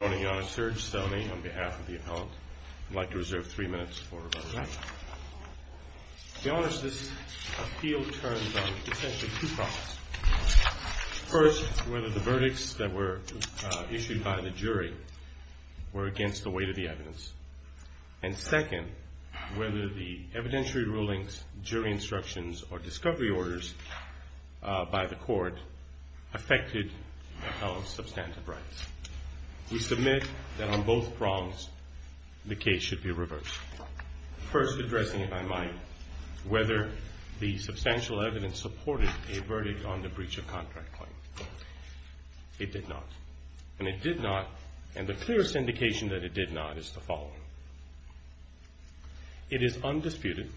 Good morning, Your Honor. Serge Stelmi on behalf of the appellant. I'd like to reserve three minutes for rebuttal. Your Honor, this appeal turns on essentially two problems. First, whether the verdicts that were issued by the jury were against the weight of the evidence. And second, whether the evidentiary rulings, jury instructions, or discovery orders by the court affected the appellant's substantive rights. We submit that on both problems the case should be reversed. First, addressing if I might, whether the substantial evidence supported a verdict on the breach of contract claim. It did not. And it did not, and the clearest indication that it did not is the following. It is undisputed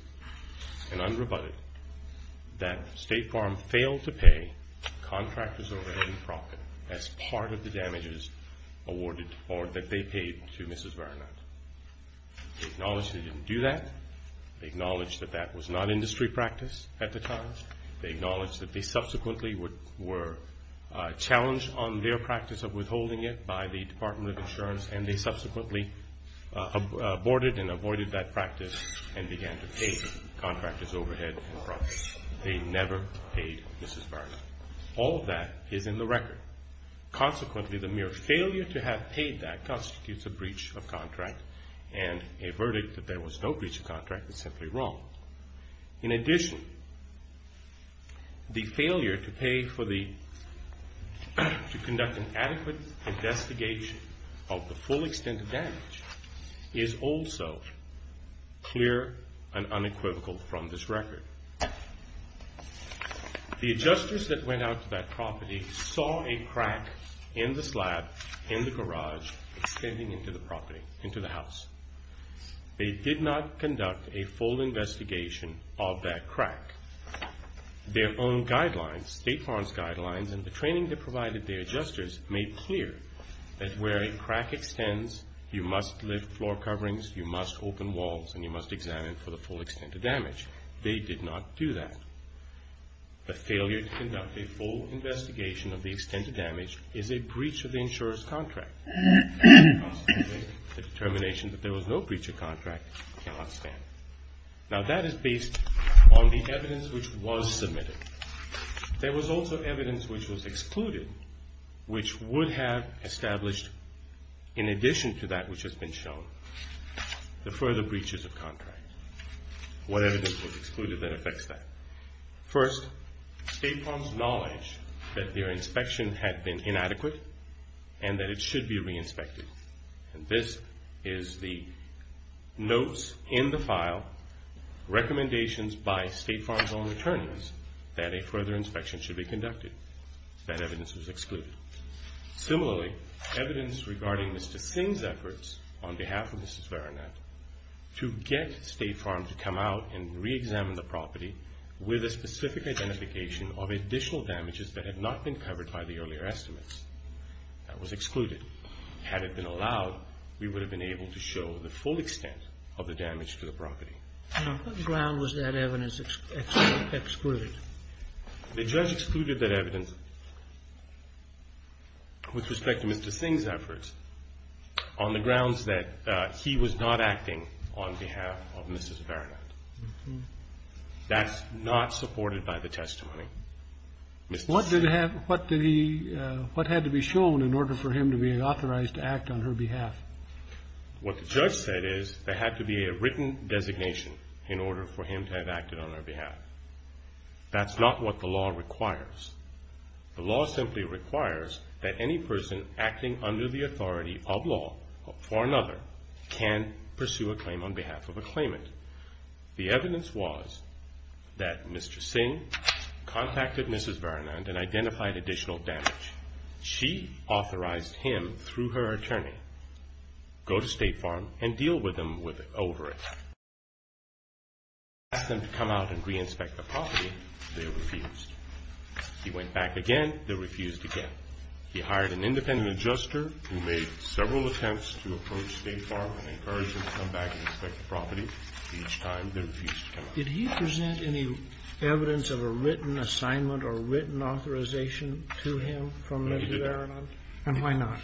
and unrebutted that State Farm failed to pay contractors overhead in profit as part of the damages awarded or that they paid to Mrs. Varanand. They acknowledged they didn't do that. They acknowledged that that was not industry practice at the time. They acknowledged that they subsequently were challenged on their practice of withholding it by the Department of Insurance and they subsequently aborted and avoided that practice and began to pay contractors overhead in profit. They never paid Mrs. Varanand. All of that is in the record. Consequently, the mere failure to have paid that constitutes a breach of contract, and a verdict that there was no breach of contract is simply wrong. In addition, the failure to pay for the, to conduct an adequate investigation of the full extent of damage is also clear and unequivocal from this record. The adjusters that went out to that property saw a crack in the slab in the garage extending into the property, into the house. They did not conduct a full investigation of that crack. Their own guidelines, State Farm's guidelines, and the training they provided their adjusters made clear that where a crack extends, you must lift floor coverings, you must open walls, and you must examine for the full extent of damage. They did not do that. The failure to conduct a full investigation of the extent of damage is a breach of the insurance contract. Consequently, the determination that there was no breach of contract cannot stand. Now that is based on the evidence which was submitted. There was also evidence which was excluded, which would have established, in addition to that which has been shown, the further breaches of contract. What evidence was excluded that affects that? First, State Farm's knowledge that their inspection had been inadequate and that it should be re-inspected. And this is the notes in the file, recommendations by State Farm's own attorneys, that a further inspection should be conducted. That evidence was excluded. Similarly, evidence regarding Mr. Singh's efforts on behalf of Mrs. Varanat to get State Farm to come out and re-examine the property with a specific identification of additional damages that had not been covered by the earlier estimates. That was excluded. Had it been allowed, we would have been able to show the full extent of the damage to the property. What ground was that evidence excluded? The judge excluded that evidence with respect to Mr. Singh's efforts on the grounds that he was not acting on behalf of Mrs. Varanat. That's not supported by the testimony. What did he have, what did he, what had to be shown in order for him to be authorized to act on her behalf? What the judge said is there had to be a written designation in order for him to have acted on her behalf. That's not what the law requires. The law simply requires that any person acting under the authority of law for another can pursue a claim on behalf of a claimant. The evidence was that Mr. Singh contacted Mrs. Varanat and identified additional damage. She authorized him, through her attorney, go to State Farm and deal with them over it. When he asked them to come out and re-inspect the property, they refused. He went back again, they refused again. He hired an independent adjuster who made several attempts to approach State Farm and encourage them to come back and inspect the property. Each time, they refused to come out. Did he present any evidence of a written assignment or written authorization to him from Mrs. Varanat? And why not?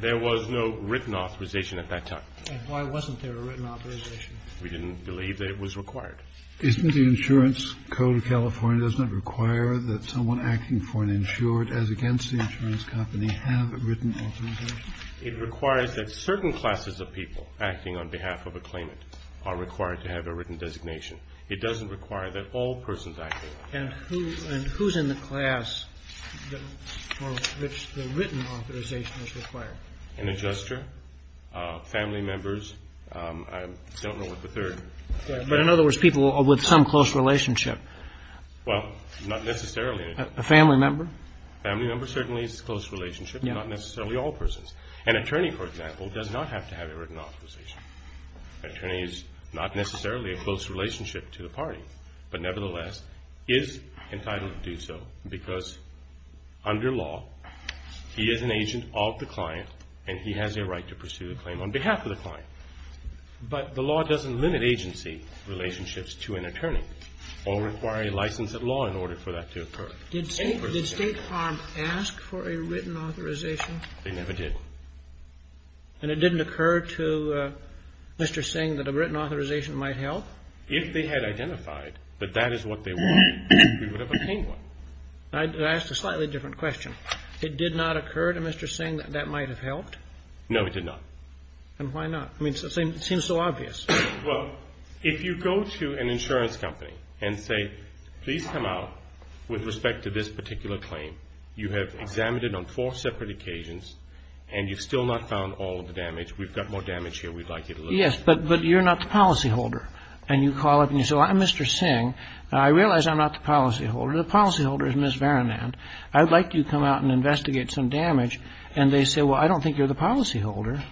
There was no written authorization at that time. And why wasn't there a written authorization? We didn't believe that it was required. Isn't the insurance code of California, doesn't it require that someone acting for an insured, as against the insurance company, have a written authorization? It requires that certain classes of people acting on behalf of a claimant are required to have a written designation. It doesn't require that all persons acting on behalf of a claimant have a written designation. And who's in the class for which the written authorization is required? An adjuster, family members, I don't know what the third. But in other words, people with some close relationship. Well, not necessarily. A family member? A family member certainly is a close relationship, but not necessarily all persons. An attorney, for example, does not have to have a written authorization. An attorney is not necessarily a close relationship to the party, but nevertheless, is entitled to do so because under law, he is an agent of the client, and he has a right to pursue the claim on behalf of the client. But the law doesn't limit agency relationships to an attorney or require a license at law in order for that to occur. Did State Farm ask for a written authorization? They never did. And it didn't occur to Mr. Singh that a written authorization might help? If they had identified that that is what they wanted, we would have obtained one. I asked a slightly different question. It did not occur to Mr. Singh that that might have helped? No, it did not. And why not? I mean, it seems so obvious. Well, if you go to an insurance company and say, please come out with respect to this particular claim. You have examined it on four separate occasions, and you've still not found all of the damage. We've got more damage here we'd like you to look at. Yes, but you're not the policyholder. And you call up and you say, well, I'm Mr. Singh. I realize I'm not the policyholder. The policyholder is Ms. Varanand. I'd like you to come out and investigate some damage. And they say, well, I don't think you're the policyholder.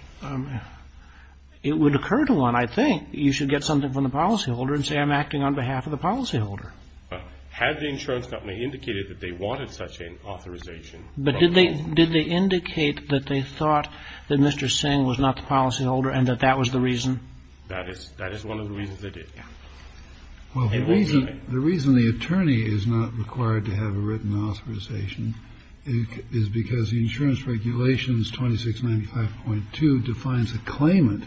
It would occur to one, I think, you should get something from the policyholder and say I'm acting on behalf of the policyholder. Had the insurance company indicated that they wanted such an authorization? But did they indicate that they thought that Mr. Singh was not the policyholder and that that was the reason? That is one of the reasons they did, yes. Well, the reason the attorney is not required to have a written authorization is because the insurance regulations, 2695.2, defines a claimant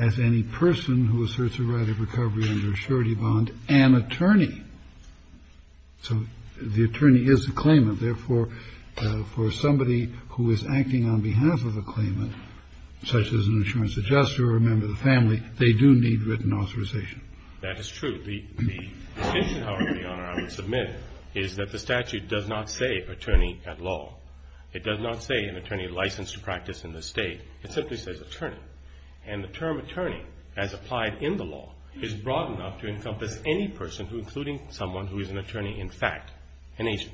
as any person who asserts a right of recovery under a surety bond, an attorney. So the attorney is the claimant. Therefore, for somebody who is acting on behalf of a claimant, such as an insurance adjuster or a member of the family, they do need written authorization. That is true. The distinction, however, Your Honor, I would submit, is that the statute does not say attorney at law. It does not say an attorney licensed to practice in the state. It simply says attorney. And the term attorney, as applied in the law, is broad enough to encompass any person, including someone who is an attorney in fact, an agent.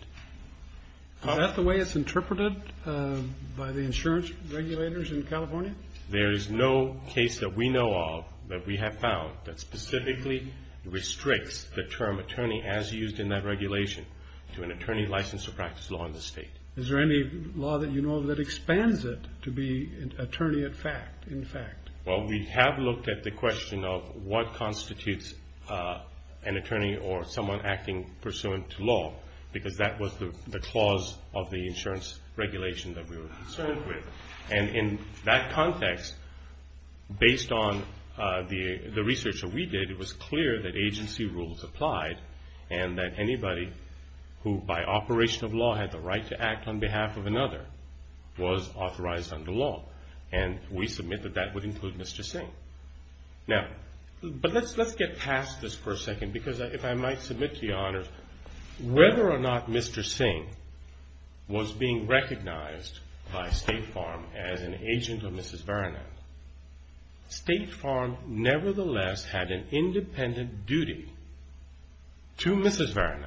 Is that the way it's interpreted by the insurance regulators in California? There is no case that we know of that we have found that specifically restricts the term attorney as used in that regulation to an attorney licensed to practice law in the state. Is there any law that you know of that expands it to be attorney at fact, in fact? Well, we have looked at the question of what constitutes an attorney or someone acting pursuant to law, because that was the clause of the insurance regulation that we were concerned with. And in that context, based on the research that we did, it was clear that agency rules applied and that anybody who, by operation of law, had the right to act on behalf of another was authorized under law. And we submit that that would include Mr. Singh. Now, but let's get past this for a second, because if I might submit to you, Your Honor, whether or not Mr. Singh was being recognized by State Farm as an agent of Mrs. Varanand, State Farm nevertheless had an independent duty to Mrs. Varanand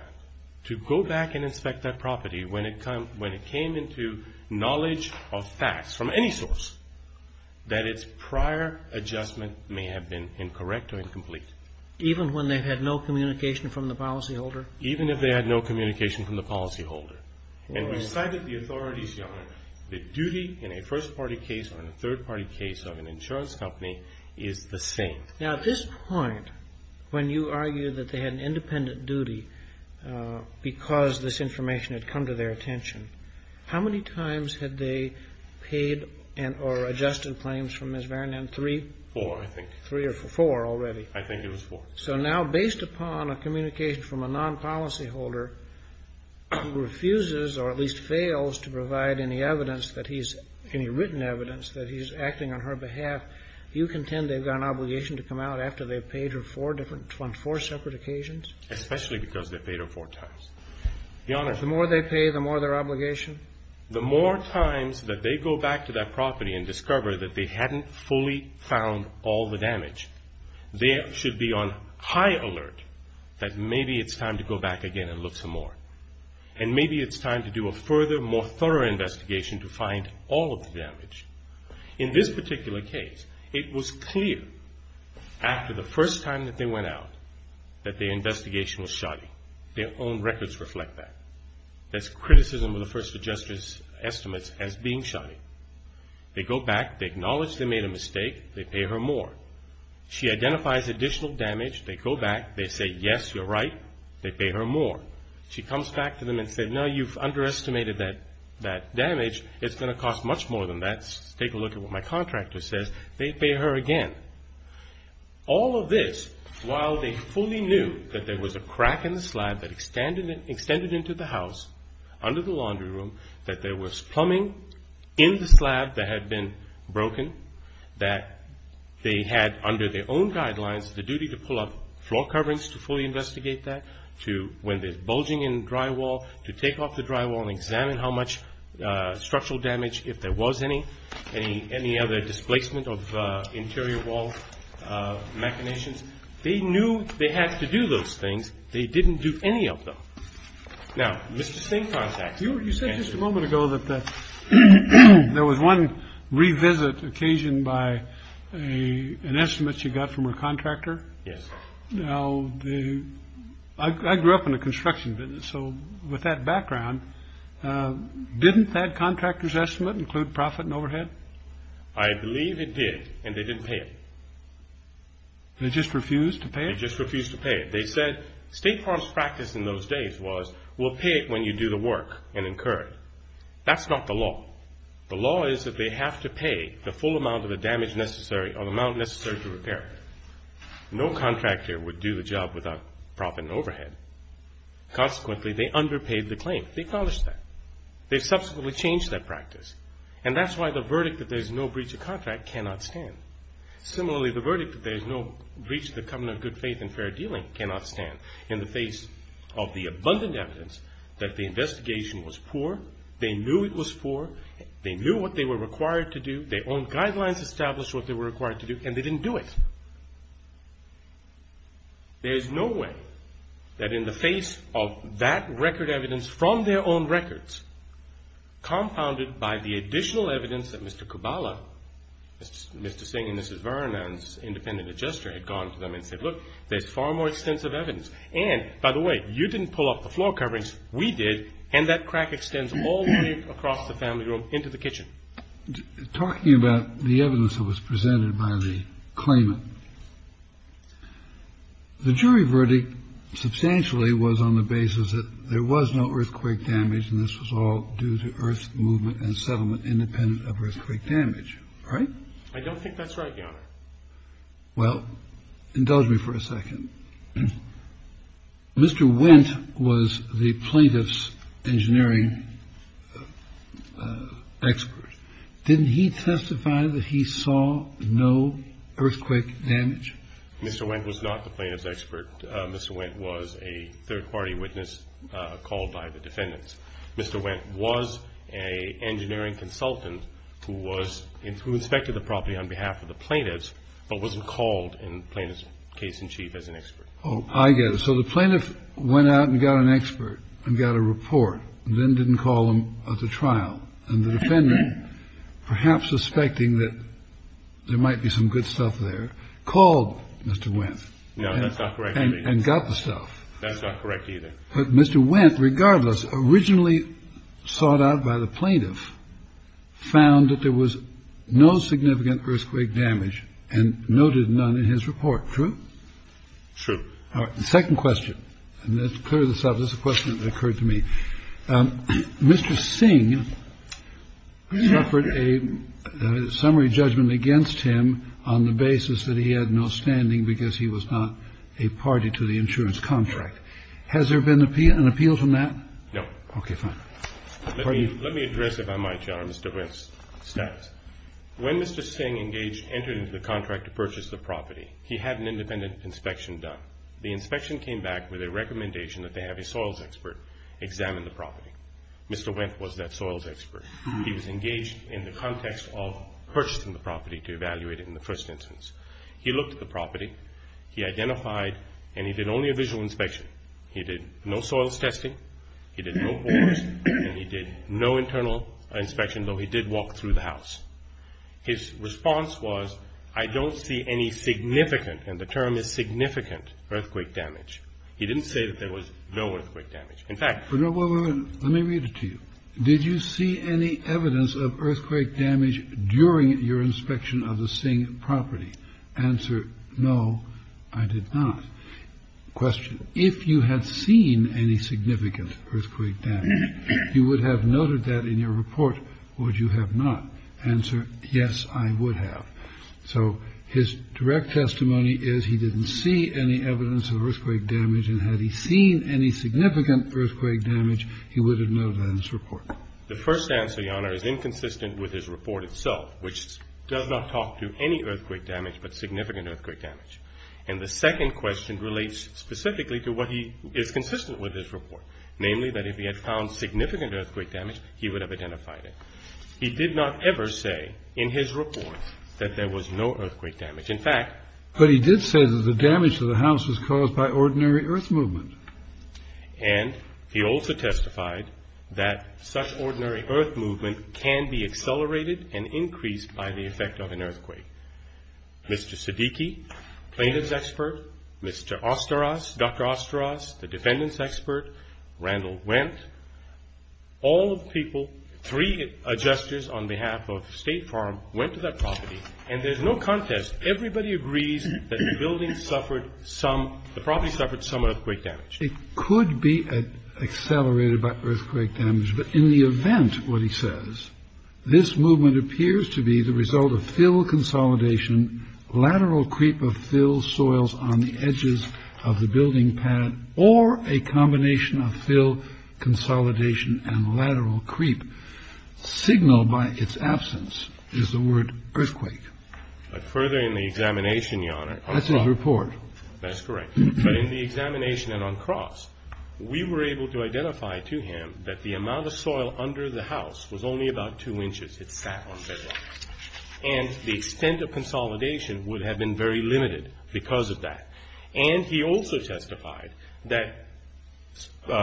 to go back and inspect that property when it came into knowledge of facts from any source that its prior adjustment may have been incorrect or incomplete. Even when they had no communication from the policyholder? Even if they had no communication from the policyholder. And we cited the authorities, Your Honor, that duty in a first-party case or in a third-party case of an insurance company is the same. Now, at this point, when you argue that they had an independent duty because this information had come to their attention, how many times had they paid or adjusted claims from Mrs. Varanand? Three? Four, I think. Three or four already. I think it was four. So now, based upon a communication from a non-policyholder who refuses or at least fails to provide any evidence that he's – any written evidence that he's acting on her behalf, you contend they've got an obligation to come out after they've paid her four different – on four separate occasions? Especially because they've paid her four times. Your Honor – The more they pay, the more their obligation? The more times that they go back to that property and discover that they hadn't fully found all the damage, they should be on high alert that maybe it's time to go back again and look some more. And maybe it's time to do a further, more thorough investigation to find all of the damage. In this particular case, it was clear after the first time that they went out that the investigation was shoddy. Their own records reflect that. That's criticism of the first adjuster's estimates as being shoddy. They go back. They acknowledge they made a mistake. They pay her more. She identifies additional damage. They go back. They say, yes, you're right. They pay her more. She comes back to them and says, no, you've underestimated that damage. It's going to cost much more than that. Take a look at what my contractor says. They pay her again. All of this while they fully knew that there was a crack in the slab that extended into the house under the laundry room, that there was plumbing in the slab that had been broken, that they had under their own guidelines the duty to pull up floor coverings to fully investigate that, to when there's bulging in the drywall, to take off the drywall and examine how much structural damage, if there was any, any other displacement of interior wall machinations. They knew they had to do those things. They didn't do any of them. Now, Mr. Stankontax. You said just a moment ago that there was one revisit occasioned by an estimate you got from her contractor. Yes. Now, I grew up in a construction business, so with that background, didn't that contractor's estimate include profit and overhead? I believe it did, and they didn't pay it. They just refused to pay it? They just refused to pay it. They said State Farm's practice in those days was we'll pay it when you do the work and incur it. That's not the law. The law is that they have to pay the full amount of the damage necessary or the amount necessary to repair it. No contractor would do the job without profit and overhead. Consequently, they underpaid the claim. They acknowledged that. They subsequently changed that practice, and that's why the verdict that there's no breach of contract cannot stand. Similarly, the verdict that there's no breach of the covenant of good faith and fair dealing cannot stand in the face of the abundant evidence that the investigation was poor. They knew it was poor. They knew what they were required to do. Their own guidelines established what they were required to do, and they didn't do it. There's no way that in the face of that record evidence from their own records, compounded by the additional evidence that Mr. Kubala, Mr. Singh and Mrs. Vernon's independent adjuster had gone to them and said, look, there's far more extensive evidence. And, by the way, you didn't pull off the floor coverings. We did. And that crack extends all the way across the family room into the kitchen. Talking about the evidence that was presented by the claimant, the jury verdict substantially was on the basis that there was no earthquake damage, and this was all due to earth movement and settlement independent of earthquake damage. Right? I don't think that's right, Your Honor. Well, indulge me for a second. Mr. Wendt was the plaintiff's engineering expert. Didn't he testify that he saw no earthquake damage? Mr. Wendt was not the plaintiff's expert. Mr. Wendt was a third-party witness called by the defendants. Mr. Wendt was an engineering consultant who inspected the property on behalf of the plaintiffs, but wasn't called in the plaintiff's case in chief as an expert. Oh, I get it. So the plaintiff went out and got an expert and got a report and then didn't call him at the trial. And the defendant, perhaps suspecting that there might be some good stuff there, called Mr. Wendt. No, that's not correct. And got the stuff. That's not correct either. But Mr. Wendt, regardless, originally sought out by the plaintiff, found that there was no significant earthquake damage and noted none in his report. True? True. All right. Second question. And let's clear this up. This is a question that occurred to me. Mr. Singh suffered a summary judgment against him on the basis that he had no standing because he was not a party to the insurance contract. Has there been an appeal from that? No. Okay, fine. Let me address it if I might, Your Honor, Mr. Wendt's status. When Mr. Singh entered into the contract to purchase the property, he had an independent inspection done. The inspection came back with a recommendation that they have a soils expert examine the property. Mr. Wendt was that soils expert. He was engaged in the context of purchasing the property to evaluate it in the first instance. He looked at the property. He identified, and he did only a visual inspection. He did no soils testing. He did no bores. And he did no internal inspection, though he did walk through the house. His response was, I don't see any significant, and the term is significant, earthquake damage. He didn't say that there was no earthquake damage. In fact, Let me read it to you. Did you see any evidence of earthquake damage during your inspection of the Singh property? Answer, no, I did not. Question, if you had seen any significant earthquake damage, you would have noted that in your report. Would you have not? Answer, yes, I would have. So his direct testimony is he didn't see any evidence of earthquake damage, and had he seen any significant earthquake damage, he would have noted that in his report. The first answer, Your Honor, is inconsistent with his report itself, which does not talk to any earthquake damage but significant earthquake damage. And the second question relates specifically to what he is consistent with his report, namely that if he had found significant earthquake damage, he would have identified it. He did not ever say in his report that there was no earthquake damage. In fact, But he did say that the damage to the house was caused by ordinary earth movement. And he also testified that such ordinary earth movement can be accelerated and increased by the effect of an earthquake. Mr. Siddiqui, plaintiff's expert, Mr. Osteros, Dr. Osteros, the defendant's expert, Randall Wendt, all of the people, three adjusters on behalf of State Farm, went to that property. And there's no contest. Everybody agrees that the building suffered some, the property suffered some earthquake damage. It could be accelerated by earthquake damage. But in the event, what he says, this movement appears to be the result of fill consolidation, lateral creep of fill soils on the edges of the building pad or a combination of fill consolidation and lateral creep. Signal by its absence is the word earthquake. But further in the examination, Your Honor, that's his report. That's correct. But in the examination and on cross, we were able to identify to him that the amount of soil under the house was only about two inches. It sat on bedrock. And the extent of consolidation would have been very limited because of that. And he also testified that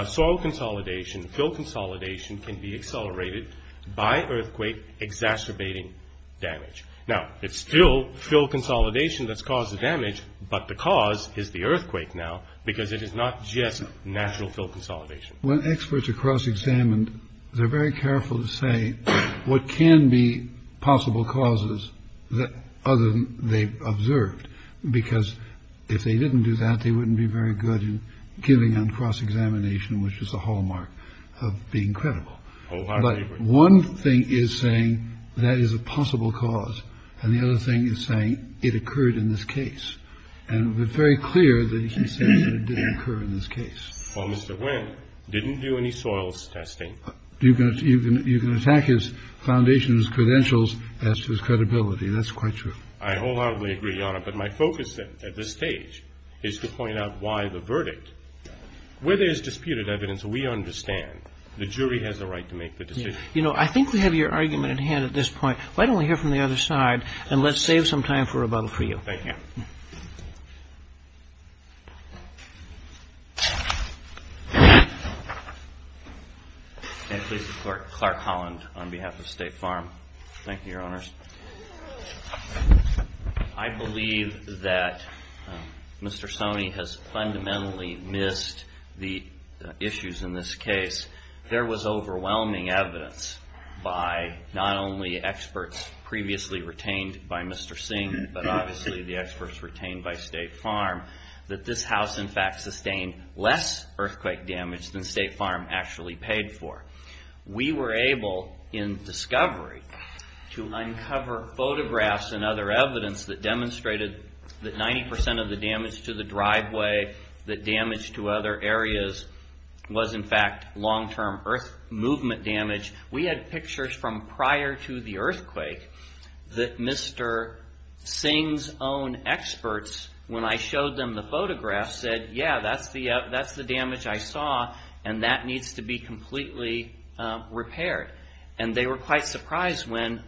soil consolidation, fill consolidation can be accelerated by earthquake exacerbating damage. Now, it's still fill consolidation that's caused the damage. But the cause is the earthquake now because it is not just natural fill consolidation. When experts are cross examined, they're very careful to say what can be possible causes that other than they've observed. Because if they didn't do that, they wouldn't be very good in giving on cross examination, which is a hallmark of being credible. But one thing is saying that is a possible cause. And the other thing is saying it occurred in this case. And we're very clear that he said it didn't occur in this case. Well, Mr. Wynn didn't do any soils testing. You can attack his foundation's credentials as to his credibility. That's quite true. I wholeheartedly agree, Your Honor. But my focus at this stage is to point out why the verdict. Where there's disputed evidence, we understand. The jury has a right to make the decision. You know, I think we have your argument at hand at this point. Why don't we hear from the other side and let's save some time for rebuttal for you. Thank you. May I please report Clark Holland on behalf of State Farm. Thank you, Your Honors. I believe that Mr. Stoney has fundamentally missed the issues in this case. There was overwhelming evidence by not only experts previously retained by Mr. Singh, but obviously the experts retained by State Farm, that this house in fact sustained less earthquake damage than State Farm actually paid for. We were able in discovery to uncover photographs and other evidence that demonstrated that 90% of the damage to the driveway, the damage to other areas, was in fact long-term earth movement damage. We had pictures from prior to the earthquake that Mr. Singh's own experts, when I showed them the photographs, said, yeah, that's the damage I saw and that needs to be completely repaired. And they were quite surprised when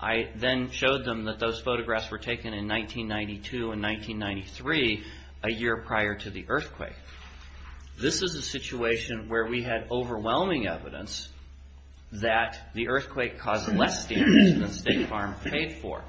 I then showed them that those photographs were taken in 1992 and 1993, a year prior to the earthquake. This is a situation where we had overwhelming evidence that the earthquake caused less damage than State Farm paid for.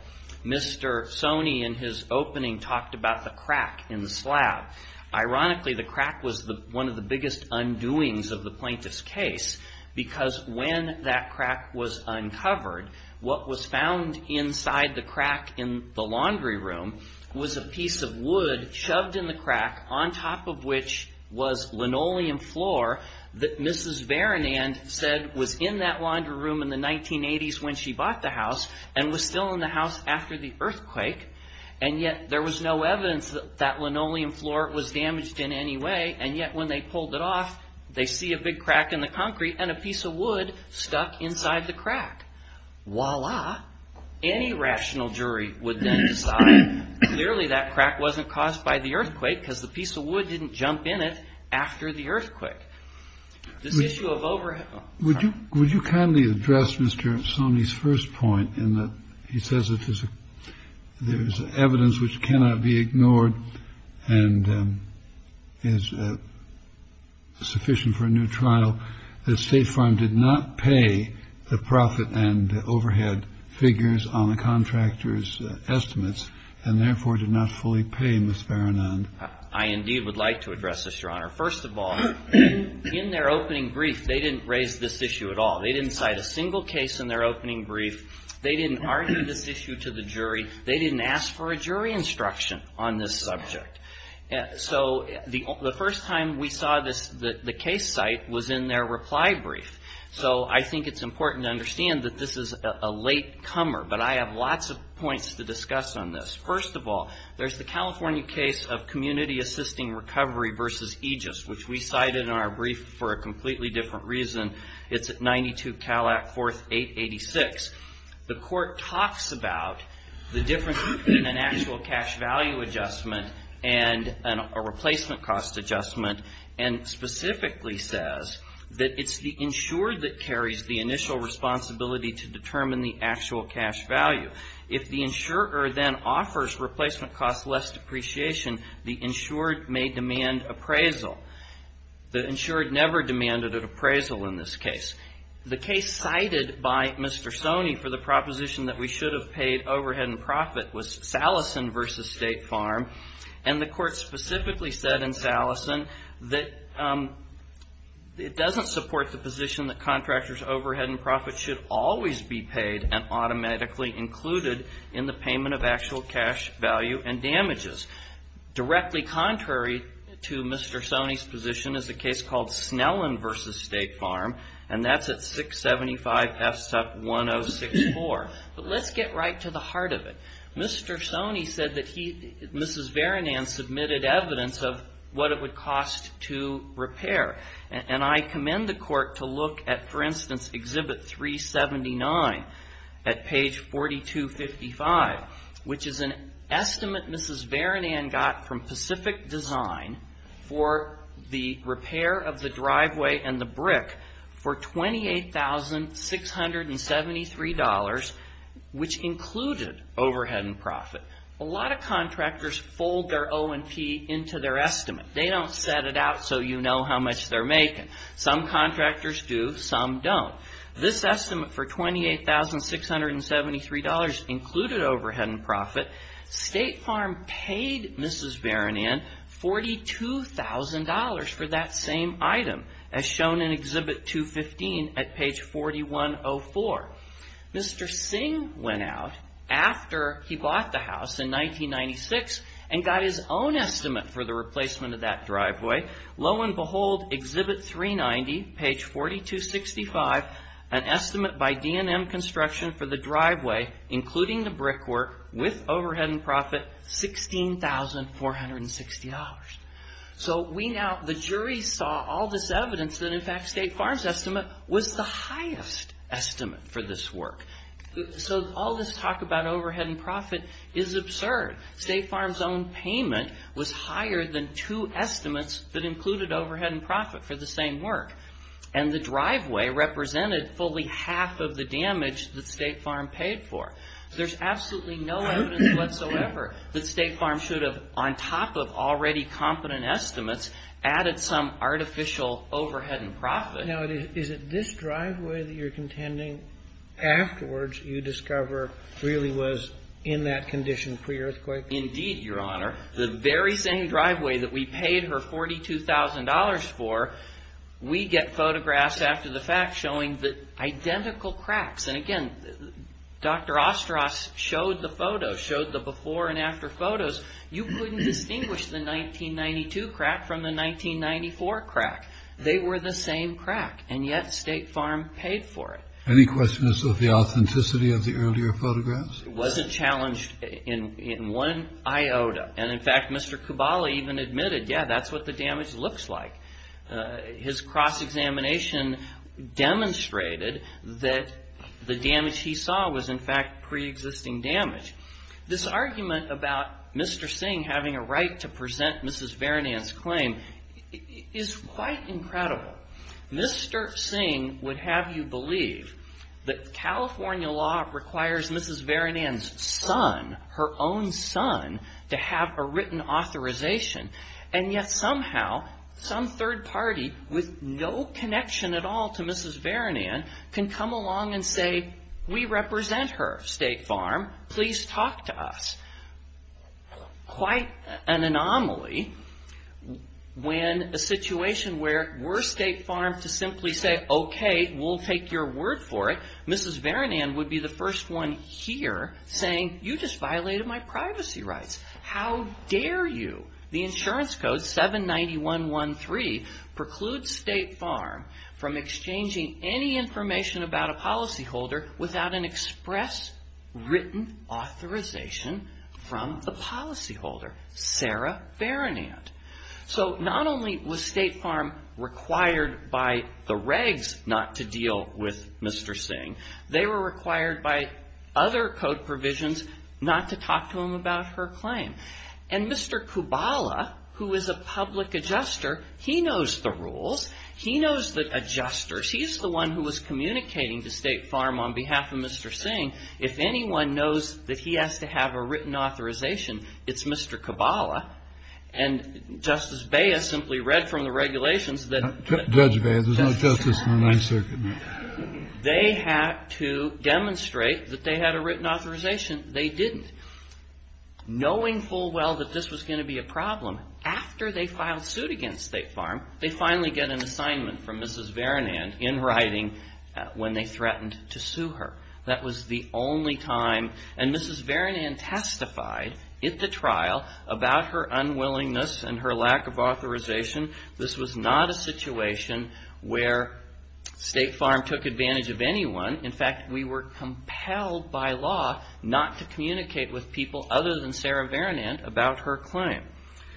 Mr. Stoney in his opening talked about the crack in the slab. Ironically, the crack was one of the biggest undoings of the plaintiff's case because when that crack was uncovered, what was found inside the crack in the laundry room was a piece of wood shoved in the crack, on top of which was linoleum floor, that Mrs. Berenand said was in that laundry room in the 1980s when she bought the house and was still in the house after the earthquake. And yet there was no evidence that that linoleum floor was damaged in any way. And yet when they pulled it off, they see a big crack in the concrete and a piece of wood stuck inside the crack. Voila. Any rational jury would then decide clearly that crack wasn't caused by the earthquake because the piece of wood didn't jump in it after the earthquake. Would you kindly address Mr. Stoney's first point in that he says there is evidence which cannot be ignored and is sufficient for a new trial, that State Farm did not pay the profit and overhead figures on the contractor's estimates and therefore did not fully pay Mrs. Berenand. I indeed would like to address this, Your Honor. First of all, in their opening brief, they didn't raise this issue at all. They didn't cite a single case in their opening brief. They didn't argue this issue to the jury. They didn't ask for a jury instruction on this subject. So the first time we saw the case site was in their reply brief. So I think it's important to understand that this is a late comer, but I have lots of points to discuss on this. First of all, there's the California case of community assisting recovery versus Aegis, which we cited in our brief for a completely different reason. It's at 92 Cal Act 4th 886. The court talks about the difference between an actual cash value adjustment and a replacement cost adjustment and specifically says that it's the insurer that carries the initial responsibility to determine the actual cash value. If the insurer then offers replacement costs less depreciation, the insured may demand appraisal. The insured never demanded an appraisal in this case. The case cited by Mr. Sony for the proposition that we should have paid overhead and profit was Salison versus State Farm, and the court specifically said in Salison that it doesn't support the position that contractors' overhead and profit should always be paid and automatically included in the payment of actual cash value and damages. Directly contrary to Mr. Sony's position is a case called Snellen versus State Farm, and that's at 675S1064. But let's get right to the heart of it. Mr. Sony said that he, Mrs. Varinan, submitted evidence of what it would cost to repair, and I commend the court to look at, for instance, Exhibit 379 at page 4255, which is an estimate Mrs. Varinan got from Pacific Design for the repair of the driveway and the brick for $28,673, which included overhead and profit. A lot of contractors fold their O&P into their estimate. They don't set it out so you know how much they're making. Some contractors do, some don't. This estimate for $28,673 included overhead and profit. State Farm paid Mrs. Varinan $42,000 for that same item as shown in Exhibit 215 at page 4104. Mr. Singh went out after he bought the house in 1996 and got his own estimate for the replacement of that driveway. Lo and behold, Exhibit 390, page 4265, an estimate by D&M Construction for the driveway, including the brickwork, with overhead and profit, $16,460. So the jury saw all this evidence that, in fact, State Farm's estimate was the highest estimate for this work. So all this talk about overhead and profit is absurd. State Farm's own payment was higher than two estimates that included overhead and profit for the same work, and the driveway represented fully half of the damage that State Farm paid for. There's absolutely no evidence whatsoever that State Farm should have, on top of already competent estimates, added some artificial overhead and profit. Now, is it this driveway that you're contending afterwards you discover really was in that condition pre-earthquake? Indeed, Your Honor. The very same driveway that we paid her $42,000 for, we get photographs after the fact showing identical cracks. And again, Dr. Ostros showed the photos, showed the before and after photos. You couldn't distinguish the 1992 crack from the 1994 crack. They were the same crack, and yet State Farm paid for it. Any questions of the authenticity of the earlier photographs? It wasn't challenged in one iota. And, in fact, Mr. Cabali even admitted, yeah, that's what the damage looks like. His cross-examination demonstrated that the damage he saw was, in fact, pre-existing damage. This argument about Mr. Singh having a right to present Mrs. Varanand's claim is quite incredible. Mr. Singh would have you believe that California law requires Mrs. Varanand's son, her own son, to have a written authorization. And yet, somehow, some third party with no connection at all to Mrs. Varanand can come along and say, we represent her, State Farm. Please talk to us. Quite an anomaly when a situation where we're State Farm to simply say, okay, we'll take your word for it. Mrs. Varanand would be the first one here saying, you just violated my privacy rights. How dare you? The insurance code, 791.1.3, precludes State Farm from exchanging any information about a policyholder without an express written authorization from the policyholder, Sarah Varanand. So not only was State Farm required by the regs not to deal with Mr. Singh, they were required by other code provisions not to talk to him about her claim. And Mr. Kubala, who is a public adjuster, he knows the rules. He knows the adjusters. He's the one who was communicating to State Farm on behalf of Mr. Singh. If anyone knows that he has to have a written authorization, it's Mr. Kubala. And Justice Beyes simply read from the regulations that the judge may have. There's no justice in the Ninth Circuit. They had to demonstrate that they had a written authorization. They didn't. Knowing full well that this was going to be a problem, after they filed suit against State Farm, they finally get an assignment from Mrs. Varanand in writing when they threatened to sue her. That was the only time. And Mrs. Varanand testified at the trial about her unwillingness and her lack of authorization. This was not a situation where State Farm took advantage of anyone. In fact, we were compelled by law not to communicate with people other than Sarah Varanand about her claim.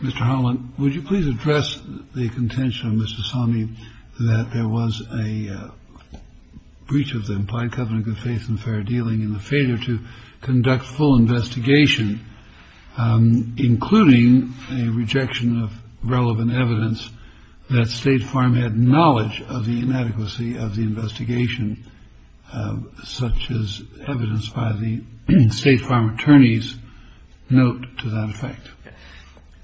Mr. Holland, would you please address the contention of Mr. Sami that there was a breach of the implied covenant of faith and fair dealing in the failure to conduct full investigation, including a rejection of relevant evidence that State Farm had knowledge of the inadequacy of the investigation, such as evidence by the State Farm attorneys note to that effect?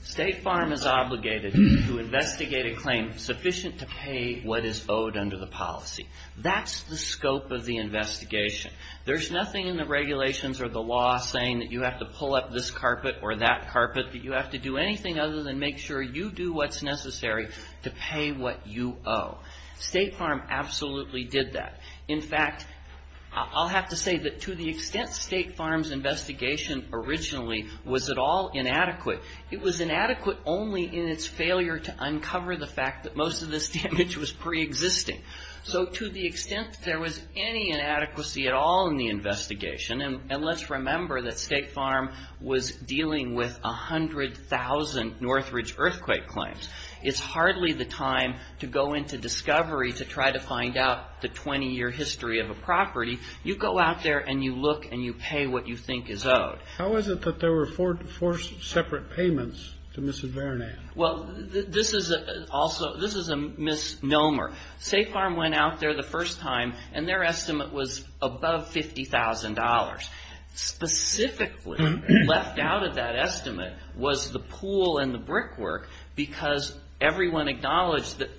State Farm is obligated to investigate a claim sufficient to pay what is owed under the policy. That's the scope of the investigation. There's nothing in the regulations or the law saying that you have to pull up this carpet or that carpet, that you have to do anything other than make sure you do what's necessary to pay what you owe. State Farm absolutely did that. In fact, I'll have to say that to the extent State Farm's investigation originally was at all inadequate, it was inadequate only in its failure to uncover the fact that most of this damage was preexisting. So to the extent that there was any inadequacy at all in the investigation, and let's remember that State Farm was dealing with 100,000 Northridge earthquake claims, it's hardly the time to go into discovery to try to find out the 20-year history of a property. You go out there and you look and you pay what you think is owed. How is it that there were four separate payments to Mrs. Varanand? Well, this is a misnomer. State Farm went out there the first time, and their estimate was above $50,000. Specifically left out of that estimate was the pool and the brick work because everyone acknowledged that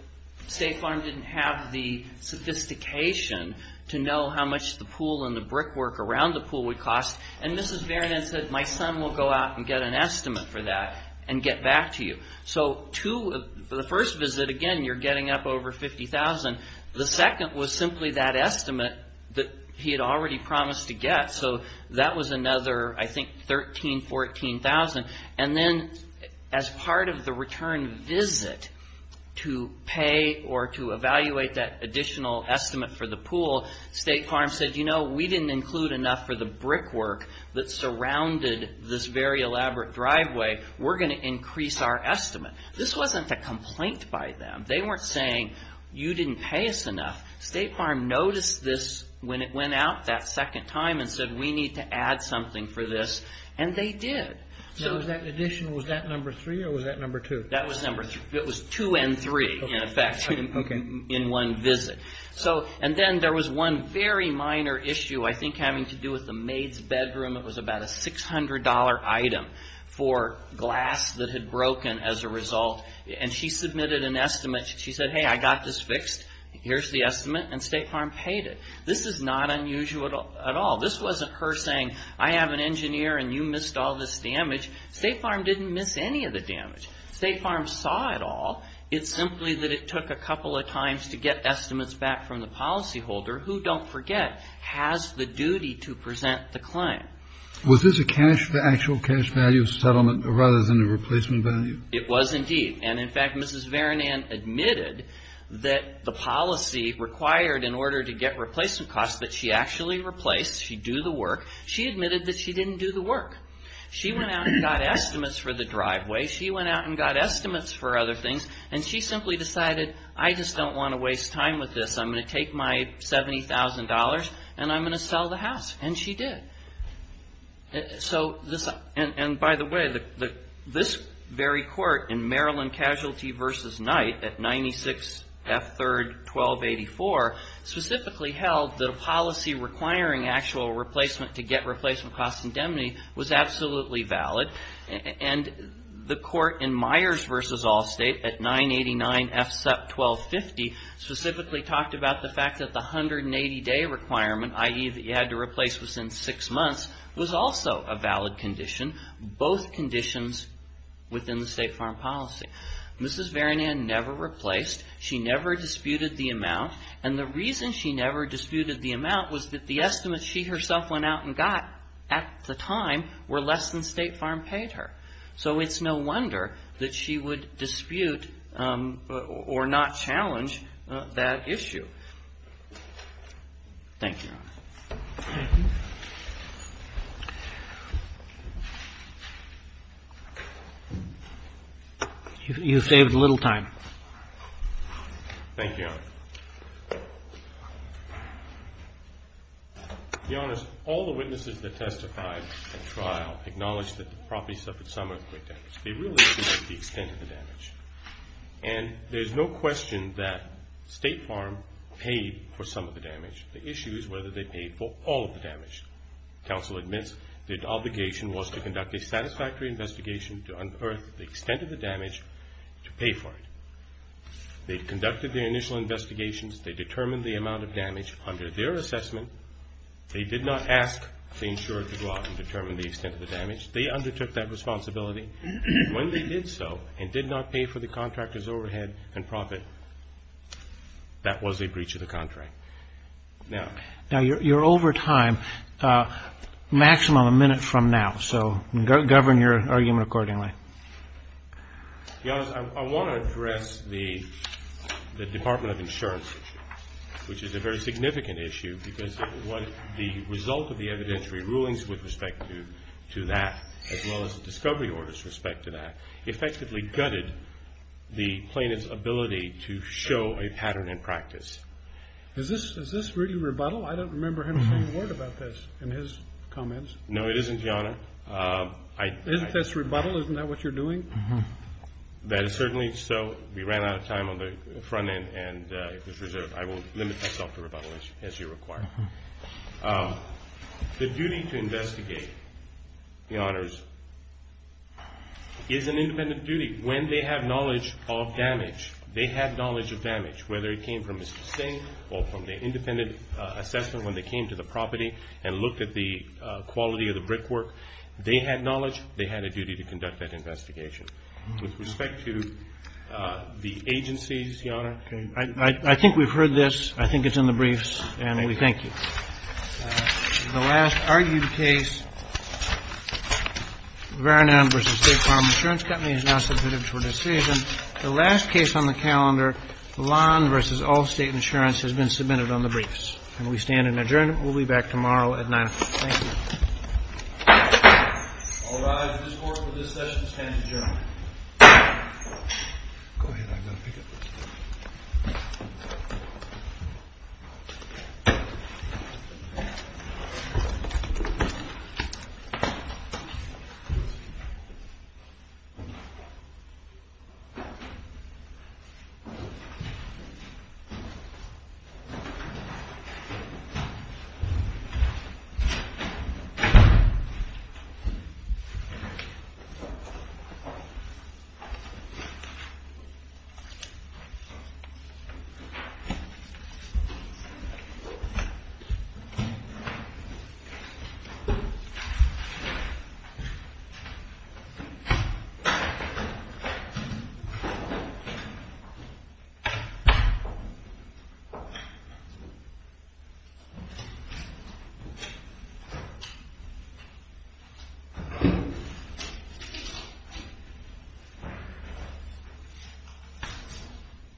State Farm didn't have the sophistication to know how much the pool and the brick work around the pool would cost, and Mrs. Varanand said, my son will go out and get an estimate for that and get back to you. So the first visit, again, you're getting up over $50,000. The second was simply that estimate that he had already promised to get, so that was another, I think, $13,000, $14,000. And then as part of the return visit to pay or to evaluate that additional estimate for the pool, State Farm said, you know, we didn't include enough for the brick work that surrounded this very elaborate driveway. We're going to increase our estimate. This wasn't a complaint by them. They weren't saying, you didn't pay us enough. State Farm noticed this when it went out that second time and said, we need to add something for this, and they did. So was that additional, was that number three or was that number two? That was number three. It was two and three, in effect, in one visit. And then there was one very minor issue, I think having to do with the maid's bedroom. It was about a $600 item for glass that had broken as a result, and she submitted an estimate. She said, hey, I got this fixed. Here's the estimate, and State Farm paid it. This is not unusual at all. This wasn't her saying, I have an engineer and you missed all this damage. State Farm didn't miss any of the damage. State Farm saw it all. It's simply that it took a couple of times to get estimates back from the policyholder, who, don't forget, has the duty to present the client. Was this a cash, the actual cash value of settlement rather than a replacement value? It was, indeed. And, in fact, Mrs. Varanand admitted that the policy required, in order to get replacement costs, that she actually replaced, she'd do the work. She admitted that she didn't do the work. She went out and got estimates for the driveway. She went out and got estimates for other things, and she simply decided, I just don't want to waste time with this. I'm going to take my $70,000 and I'm going to sell the house. And she did. And, by the way, this very court in Maryland Casualty v. Knight at 96F3-1284 specifically held that a policy requiring actual replacement to get replacement costs indemnity was absolutely valid. And the court in Myers v. Allstate at 989F-1250 specifically talked about the fact that the 180-day requirement, i.e., that you had to replace within six months, was also a valid condition, both conditions within the State Farm Policy. Mrs. Varanand never replaced. She never disputed the amount. And the reason she never disputed the amount was that the estimates she herself went out and got at the time were less than State Farm paid her. So it's no wonder that she would dispute or not challenge that issue. Thank you, Your Honor. You saved a little time. Thank you, Your Honor. Your Honor, all the witnesses that testified at trial acknowledged that the property suffered some earthquake damage. They really didn't know the extent of the damage. And there's no question that State Farm paid for some of the damage. The issue is whether they paid for all of the damage. Counsel admits their obligation was to conduct a satisfactory investigation to unearth the extent of the damage to pay for it. They conducted their initial investigations. They determined the amount of damage. Under their assessment, they did not ask the insurer to go out and determine the extent of the damage. They undertook that responsibility. When they did so and did not pay for the contractor's overhead and profit, that was a breach of the contract. Now, you're over time, maximum a minute from now, so govern your argument accordingly. Your Honor, I want to address the Department of Insurance issue, which is a very significant issue because the result of the evidentiary rulings with respect to that, as well as the discovery orders with respect to that, effectively gutted the plaintiff's ability to show a pattern in practice. Is this really rebuttal? I don't remember him saying a word about this in his comments. No, it isn't, Your Honor. Isn't this rebuttal? Isn't that what you're doing? That is certainly so. We ran out of time on the front end, and it was reserved. I will limit myself to rebuttal as you require. The duty to investigate, Your Honors, is an independent duty. When they have knowledge of damage, they have knowledge of damage, whether it came from Mr. Singh or from the independent assessment when they came to the property and looked at the quality of the brickwork. They had knowledge. They had a duty to conduct that investigation. With respect to the agencies, Your Honor. I think we've heard this. I think it's in the briefs, and we thank you. The last argued case, Varanam v. State Farm Insurance Company, is now submitted for decision. The last case on the calendar, Lon v. Allstate Insurance, has been submitted on the briefs, and we stand in adjournment. We'll be back tomorrow at 9 o'clock. Thank you. All rise. This court for this session stands adjourned. Go ahead. I've got to pick up this. I've got to pick up this. Thank you. Thank you.